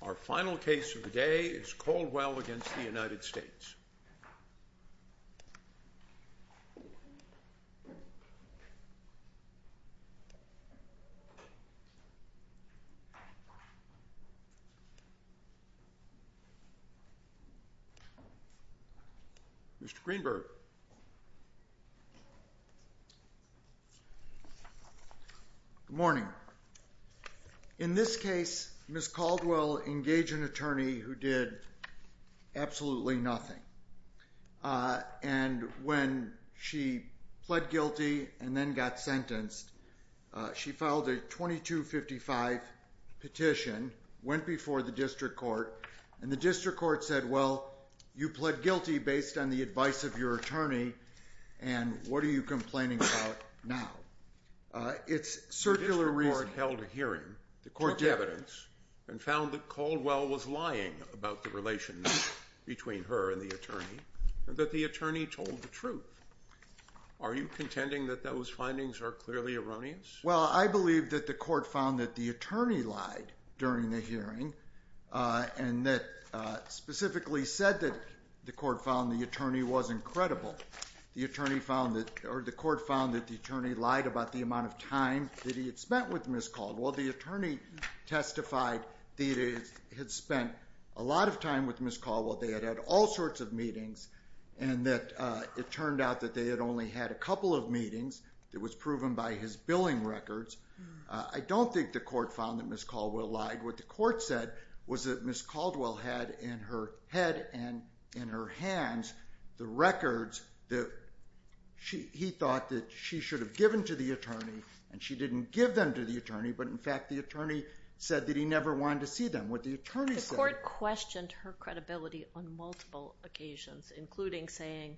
Our final case of the day is Caldwell v. United States Mr. Greenberg Good morning. In this case, Ms. Caldwell engaged an attorney who did absolutely nothing. And when she pled guilty and then got sentenced, she filed a 2255 petition, went before the district court, and the district court said, well, you pled guilty based on the advice of your attorney, and what are you complaining about now? It's circular reasoning. The district court held a hearing, took evidence, and found that Caldwell was lying about the relationship between her and the attorney, and that the attorney told the truth. Are you contending that those findings are clearly erroneous? Well, I believe that the court found that the attorney lied during the hearing, and that specifically said that the court found the attorney wasn't credible. The court found that the attorney lied about the amount of time that he had spent with Ms. Caldwell. The attorney testified that he had spent a lot of time with Ms. Caldwell. They had had all sorts of meetings, and that it turned out that they had only had a couple of meetings. It was proven by his billing records. I don't think the court found that Ms. Caldwell lied. What the court said was that Ms. Caldwell had in her head and in her hands the records that he thought that she should have given to the attorney, and she didn't give them to the attorney, but, in fact, the attorney said that he never wanted to see them. The court questioned her credibility on multiple occasions, including saying,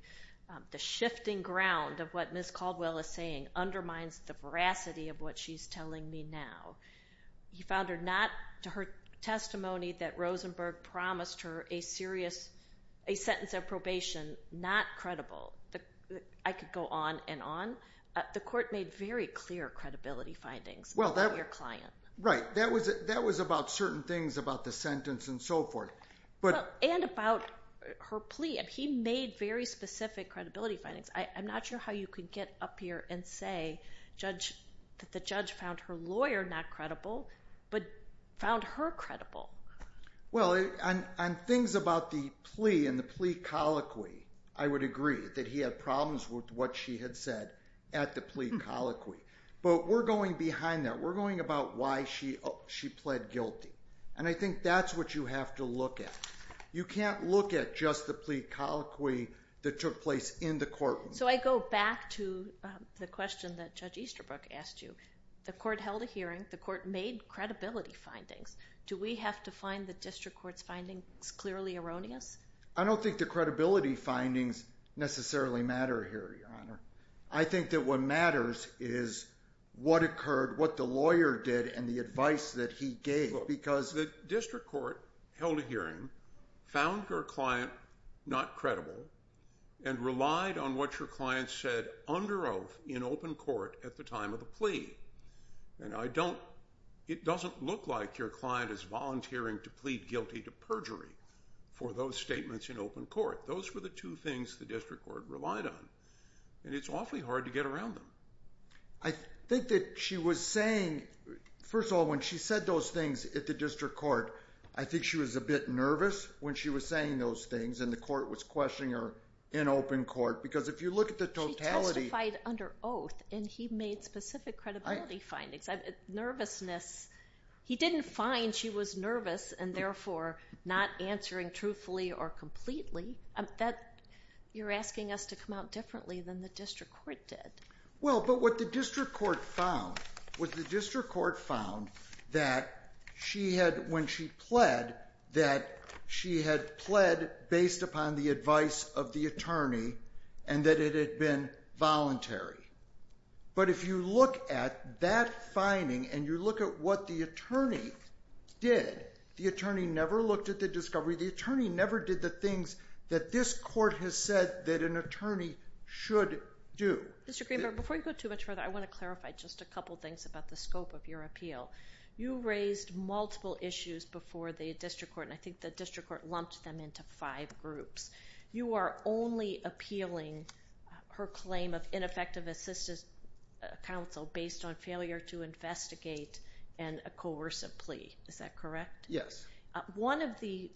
the shifting ground of what Ms. Caldwell is saying undermines the veracity of what she's telling me now. He found her testimony that Rosenberg promised her a sentence of probation not credible. I could go on and on. The court made very clear credibility findings about your client. Right. That was about certain things about the sentence and so forth. And about her plea. He made very specific credibility findings. I'm not sure how you could get up here and say that the judge found her lawyer not credible, but found her credible. Well, on things about the plea and the plea colloquy, I would agree that he had problems with what she had said at the plea colloquy. But we're going behind that. We're going about why she pled guilty, and I think that's what you have to look at. You can't look at just the plea colloquy that took place in the courtroom. So I go back to the question that Judge Easterbrook asked you. The court held a hearing. The court made credibility findings. Do we have to find the district court's findings clearly erroneous? I don't think the credibility findings necessarily matter here, Your Honor. I think that what matters is what occurred, what the lawyer did, and the advice that he gave. Look, the district court held a hearing, found her client not credible, and relied on what your client said under oath in open court at the time of the plea. And it doesn't look like your client is volunteering to plead guilty to perjury for those statements in open court. Those were the two things the district court relied on, and it's awfully hard to get around them. I think that she was saying – first of all, when she said those things at the district court, I think she was a bit nervous when she was saying those things, and the court was questioning her in open court because if you look at the totality – She testified under oath, and he made specific credibility findings. Nervousness – he didn't find she was nervous and therefore not answering truthfully or completely. You're asking us to come out differently than the district court did. Well, but what the district court found was the district court found that when she pled, that she had pled based upon the advice of the attorney and that it had been voluntary. But if you look at that finding and you look at what the attorney did, the attorney never looked at the discovery. The attorney never did the things that this court has said that an attorney should do. Mr. Greenberg, before you go too much further, I want to clarify just a couple things about the scope of your appeal. You raised multiple issues before the district court, and I think the district court lumped them into five groups. You are only appealing her claim of ineffective assistance counsel based on failure to investigate and a coercive plea. Is that correct? Yes. One of the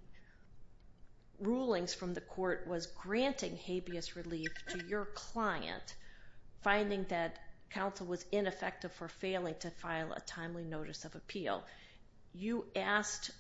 rulings from the court was granting habeas relief to your client, finding that counsel was ineffective for failing to file a timely notice of appeal. You asked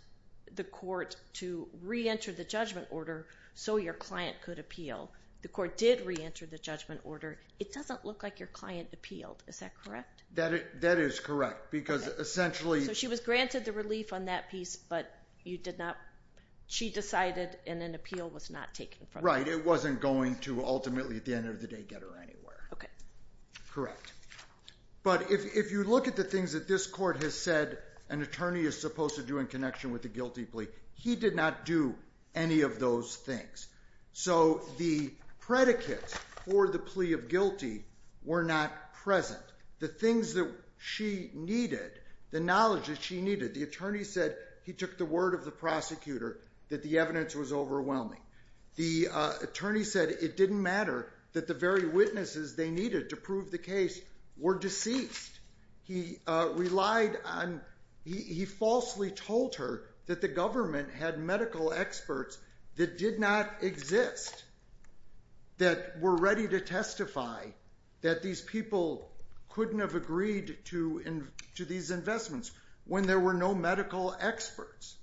the court to re-enter the judgment order so your client could appeal. The court did re-enter the judgment order. It doesn't look like your client appealed. Is that correct? That is correct because essentially— So she was granted the relief on that piece, but you did not—she decided and an appeal was not taken from her. Right. It wasn't going to ultimately at the end of the day get her anywhere. Okay. Correct. But if you look at the things that this court has said an attorney is supposed to do in connection with the guilty plea, he did not do any of those things. So the predicates for the plea of guilty were not present. The things that she needed, the knowledge that she needed, the attorney said he took the word of the prosecutor that the evidence was overwhelming. The attorney said it didn't matter that the very witnesses they needed to prove the case were deceased. He relied on—he falsely told her that the government had medical experts that did not exist that were ready to testify that these people couldn't have agreed to these investments when there were no medical experts.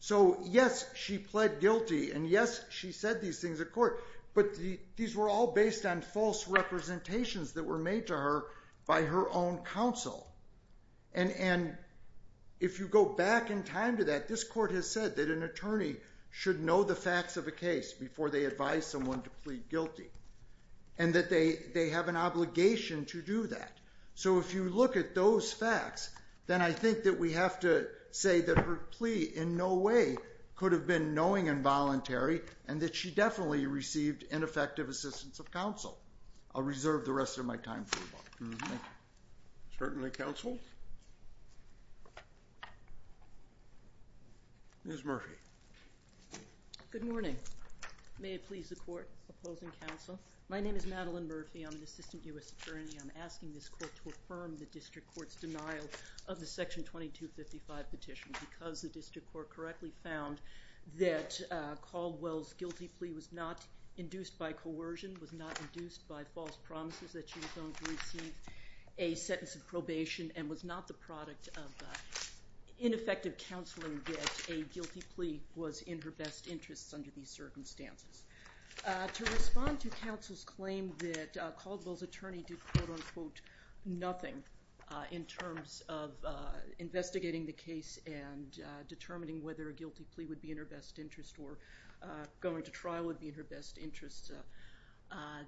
So yes, she pled guilty and yes, she said these things at court, but these were all based on false representations that were made to her by her own counsel. And if you go back in time to that, this court has said that an attorney should know the facts of a case before they advise someone to plead guilty and that they have an obligation to do that. So if you look at those facts, then I think that we have to say that her plea in no way could have been knowing and voluntary and that she definitely received ineffective assistance of counsel. I'll reserve the rest of my time for that. Thank you. Certainly, counsel. Ms. Murphy. Good morning. May it please the court opposing counsel. My name is Madeline Murphy. I'm an assistant U.S. attorney. I'm asking this court to affirm the district court's denial of the Section 2255 petition because the district court correctly found that Caldwell's guilty plea was not induced by coercion, was not induced by false promises that she was going to receive a sentence of probation and was not the product of ineffective counseling that a guilty plea was in her best interests under these circumstances. To respond to counsel's claim that Caldwell's attorney did, quote-unquote, nothing in terms of investigating the case and determining whether a guilty plea would be in her best interest or going to trial would be in her best interest,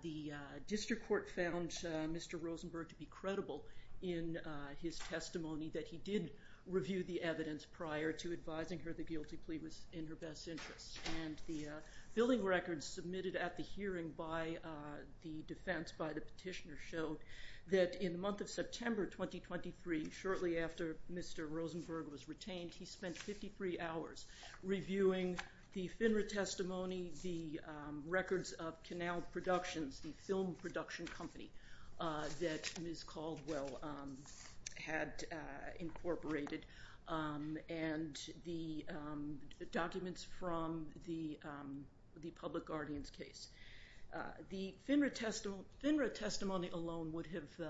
the district court found Mr. Rosenberg to be credible in his testimony that he did review the evidence prior to advising her the guilty plea was in her best interest and the billing records submitted at the hearing by the defense, by the petitioner, showed that in the month of September 2023, shortly after Mr. Rosenberg was retained, he spent 53 hours reviewing the FINRA testimony, the records of Canal Productions, the film production company that Ms. Caldwell had incorporated, and the documents from the public guardians case. The FINRA testimony alone would have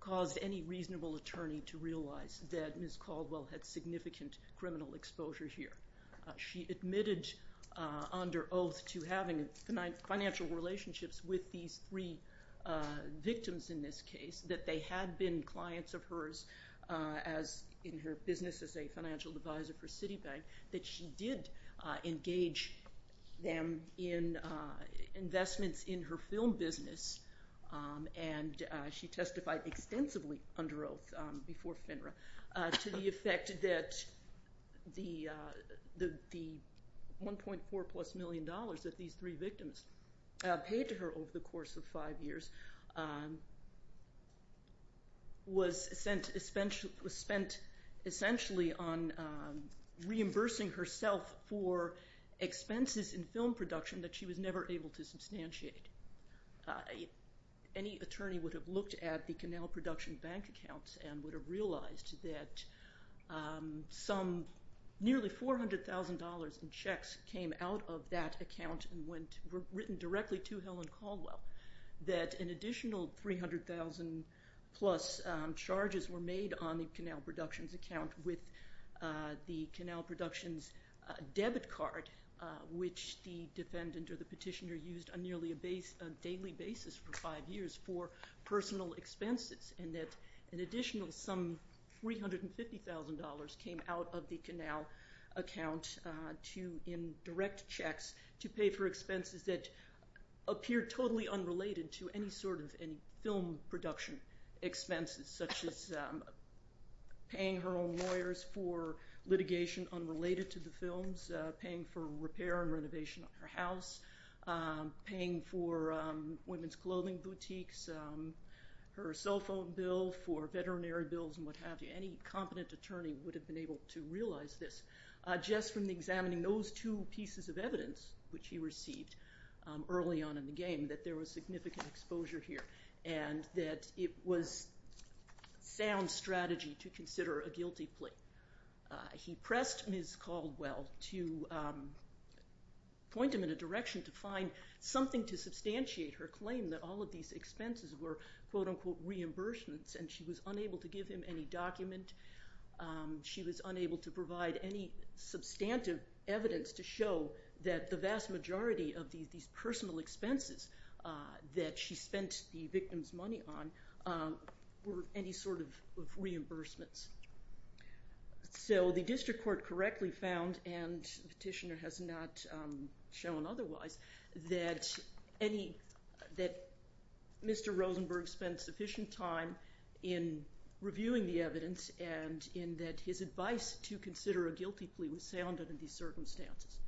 caused any reasonable attorney to realize that Ms. Caldwell had significant criminal exposure here. She admitted under oath to having financial relationships with these three victims in this case, that they had been clients of hers in her business as a financial advisor for Citibank, that she did engage them in investments in her film business, and she testified extensively under oath before FINRA to the effect that the $1.4-plus million that these three victims paid to her over the course of five years was spent essentially on reimbursing herself for expenses in film production that she was never able to substantiate. Any attorney would have looked at the Canal Production bank accounts and would have realized that some nearly $400,000 in checks came out of that account and were written directly to Helen Caldwell, that an additional $300,000-plus charges were made on the Canal Productions account with the Canal Productions debit card, which the defendant or the petitioner used on nearly a daily basis for five years for personal expenses, and that an additional some $350,000 came out of the Canal account in direct checks to pay for expenses that appear totally unrelated to any sort of film production expenses, such as paying her own lawyers for litigation unrelated to the films, paying for repair and renovation of her house, paying for women's clothing boutiques, her cell phone bill for veterinary bills and what have you. Any competent attorney would have been able to realize this just from examining those two pieces of evidence which he received early on in the game, that there was significant exposure here and that it was sound strategy to consider a guilty plea. He pressed Ms. Caldwell to point him in a direction to find something to substantiate her claim that all of these expenses were quote-unquote reimbursements and she was unable to give him any document. She was unable to provide any substantive evidence to show that the vast majority of these personal expenses that she spent the victim's money on were any sort of reimbursements. So the district court correctly found, and the petitioner has not shown otherwise, that Mr. Rosenberg spent sufficient time in reviewing the evidence and in that his advice to consider a guilty plea was sound under these circumstances.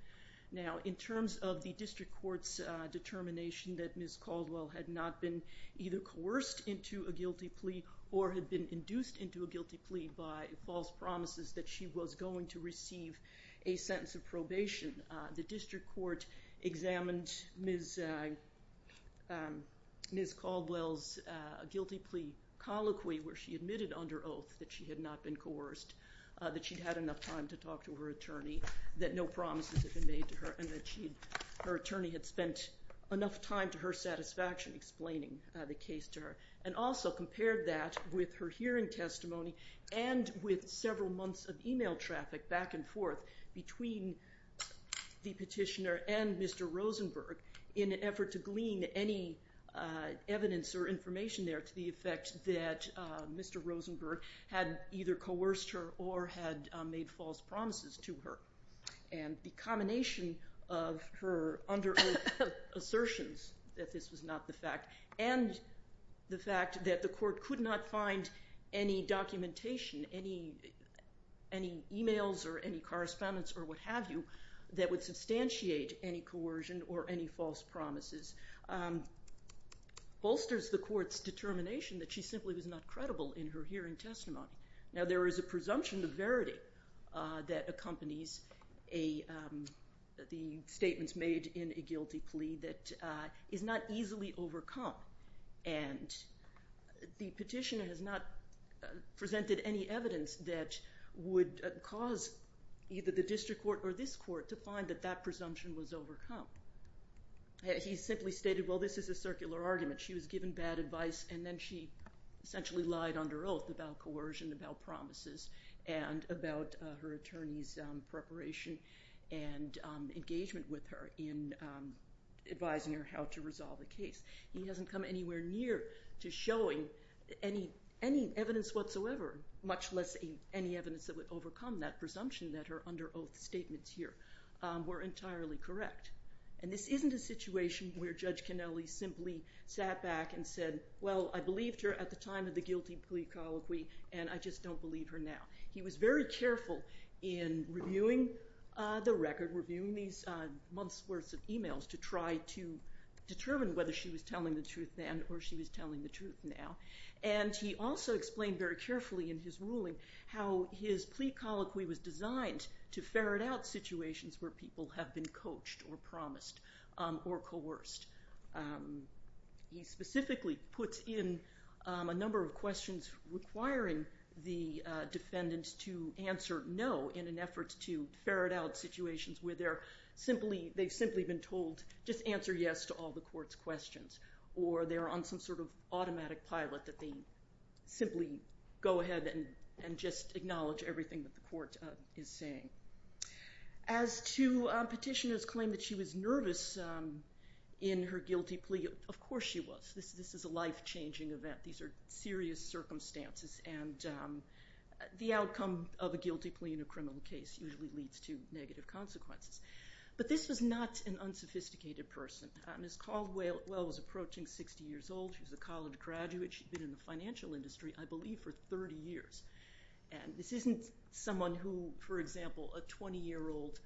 Now in terms of the district court's determination that Ms. Caldwell had not been either coerced into a guilty plea or had been induced into a guilty plea by false promises that she was going to receive a sentence of probation, the district court examined Ms. Caldwell's guilty plea colloquy where she admitted under oath that she had not been coerced, that she'd had enough time to talk to her attorney, that no promises had been made to her and that her attorney had spent enough time to her satisfaction explaining the case to her and also compared that with her hearing testimony and with several months of email traffic back and forth between the petitioner and Mr. Rosenberg in an effort to glean any evidence or information there to the effect that Mr. Rosenberg had either coerced her or had made false promises to her. And the combination of her under oath assertions that this was not the fact and the fact that the court could not find any documentation, any emails or any correspondence or what have you that would substantiate any coercion or any false promises bolsters the court's determination that she simply was not credible in her hearing testimony. Now there is a presumption of verity that accompanies the statements made in a guilty plea that is not easily overcome and the petitioner has not presented any evidence that would cause either the district court or this court to find that that presumption was overcome. He simply stated, well, this is a circular argument. She was given bad advice and then she essentially lied under oath about coercion, about promises, and about her attorney's preparation and engagement with her in advising her how to resolve the case. He hasn't come anywhere near to showing any evidence whatsoever, much less any evidence that would overcome that presumption that her under oath statements here were entirely correct. And this isn't a situation where Judge Canelli simply sat back and said, well, I believed her at the time of the guilty plea colloquy and I just don't believe her now. He was very careful in reviewing the record, reviewing these months worth of emails to try to determine whether she was telling the truth then or she was telling the truth now. And he also explained very carefully in his ruling how his plea colloquy was designed to ferret out situations where people have been coached or promised or coerced. He specifically puts in a number of questions requiring the defendant to answer no in an effort to ferret out situations where they've simply been told just answer yes to all the court's questions or they're on some sort of automatic pilot that they simply go ahead and just acknowledge everything that the court is saying. As to Petitioner's claim that she was nervous in her guilty plea, of course she was. This is a life changing event. These are serious circumstances and the outcome of a guilty plea in a criminal case usually leads to negative consequences. But this was not an unsophisticated person. Ms. Caldwell was approaching 60 years old. She was a college graduate. She'd been in the financial industry, I believe, for 30 years. This isn't someone who, for example, a 20-year-old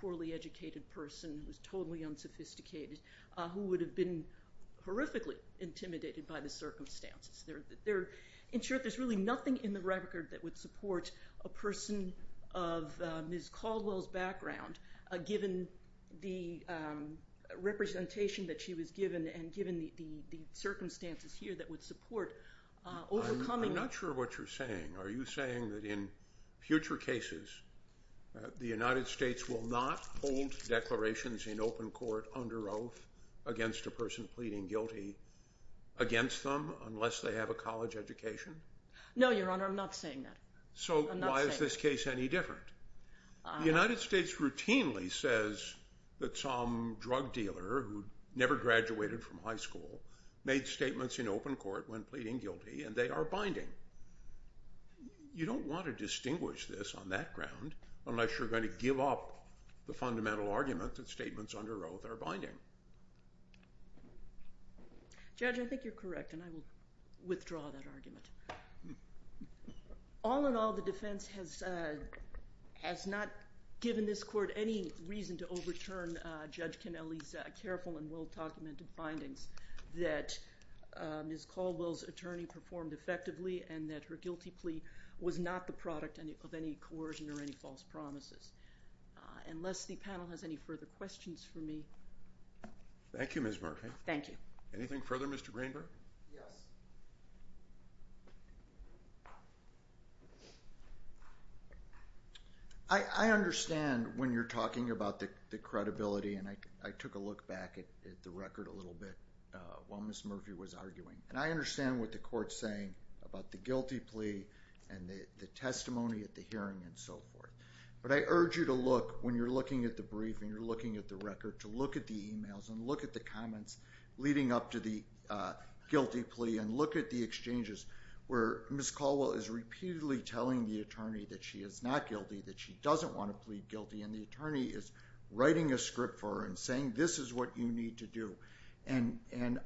poorly educated person who's totally unsophisticated who would have been horrifically intimidated by the circumstances. In short, there's really nothing in the record that would support a person of Ms. Caldwell's background given the representation that she was given and given the circumstances here that would support overcoming that. I'm not sure what you're saying. Are you saying that in future cases the United States will not hold declarations in open court under oath against a person pleading guilty against them unless they have a college education? No, Your Honor. I'm not saying that. So why is this case any different? The United States routinely says that some drug dealer who never graduated from high school made statements in open court when pleading guilty, and they are binding. You don't want to distinguish this on that ground unless you're going to give up the fundamental argument that statements under oath are binding. Judge, I think you're correct, and I will withdraw that argument. All in all, the defense has not given this court any reason to overturn Judge Canelli's careful and well-documented findings that Ms. Caldwell's attorney performed effectively and that her guilty plea was not the product of any coercion or any false promises. Unless the panel has any further questions for me. Thank you, Ms. Murphy. Thank you. Anything further, Mr. Greenberg? Yes. I understand when you're talking about the credibility, and I took a look back at the record a little bit while Ms. Murphy was arguing, and I understand what the court's saying about the guilty plea and the testimony at the hearing and so forth. But I urge you to look, when you're looking at the brief and you're looking at the record, to look at the emails and look at the comments leading up to the guilty plea and look at the exchanges where Ms. Caldwell is repeatedly telling the attorney that she is not guilty, that she doesn't want to plead guilty, and the attorney is writing a script for her and saying this is what you need to do. And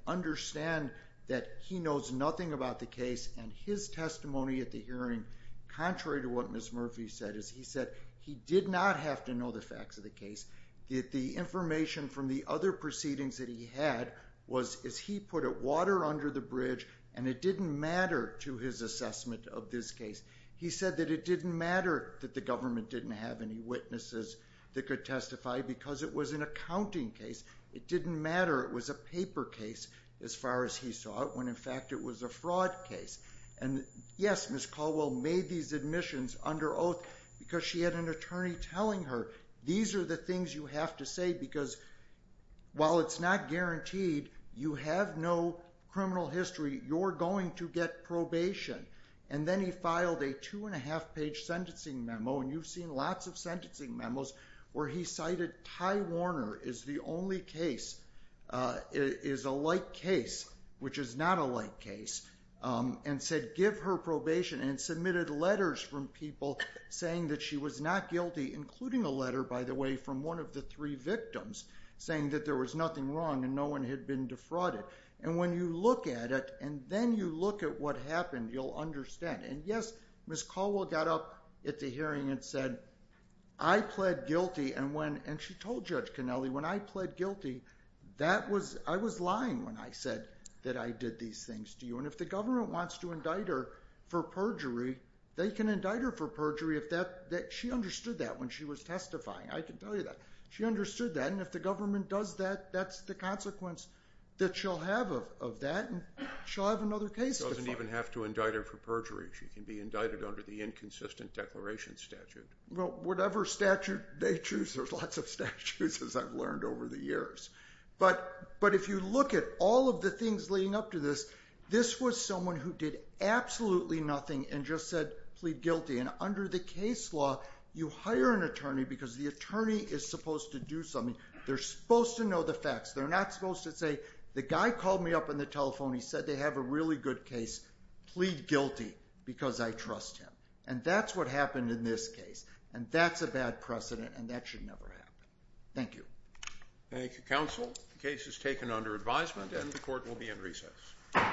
understand that he knows nothing about the case, and his testimony at the hearing, contrary to what Ms. Murphy said, is he said he did not have to know the facts of the case. The information from the other proceedings that he had was, as he put it, water under the bridge, and it didn't matter to his assessment of this case. He said that it didn't matter that the government didn't have any witnesses that could testify because it was an accounting case. It didn't matter it was a paper case as far as he saw it when, in fact, it was a fraud case. And, yes, Ms. Caldwell made these admissions under oath because she had an attorney telling her these are the things you have to say because while it's not guaranteed you have no criminal history, you're going to get probation. And then he filed a two-and-a-half-page sentencing memo, and you've seen lots of sentencing memos, where he cited Ty Warner is the only case, is a light case, which is not a light case, and said give her probation and submitted letters from people saying that she was not guilty, including a letter, by the way, from one of the three victims saying that there was nothing wrong and no one had been defrauded. And when you look at it and then you look at what happened, you'll understand. And, yes, Ms. Caldwell got up at the hearing and said, I pled guilty. And she told Judge Connelly, when I pled guilty, I was lying when I said that I did these things to you. And if the government wants to indict her for perjury, they can indict her for perjury. She understood that when she was testifying. I can tell you that. She understood that. And if the government does that, that's the consequence that she'll have of that, and she'll have another case to file. She doesn't even have to indict her for perjury. She can be indicted under the inconsistent declaration statute. Well, whatever statute they choose, there's lots of statutes, as I've learned over the years. But if you look at all of the things leading up to this, this was someone who did absolutely nothing and just said, plead guilty. And under the case law, you hire an attorney because the attorney is supposed to do something. They're supposed to know the facts. They're not supposed to say, the guy called me up on the telephone. He said they have a really good case. Plead guilty because I trust him. And that's what happened in this case. And that's a bad precedent, and that should never happen. Thank you. Thank you, counsel. The case is taken under advisement, and the court will be in recess. Thank you.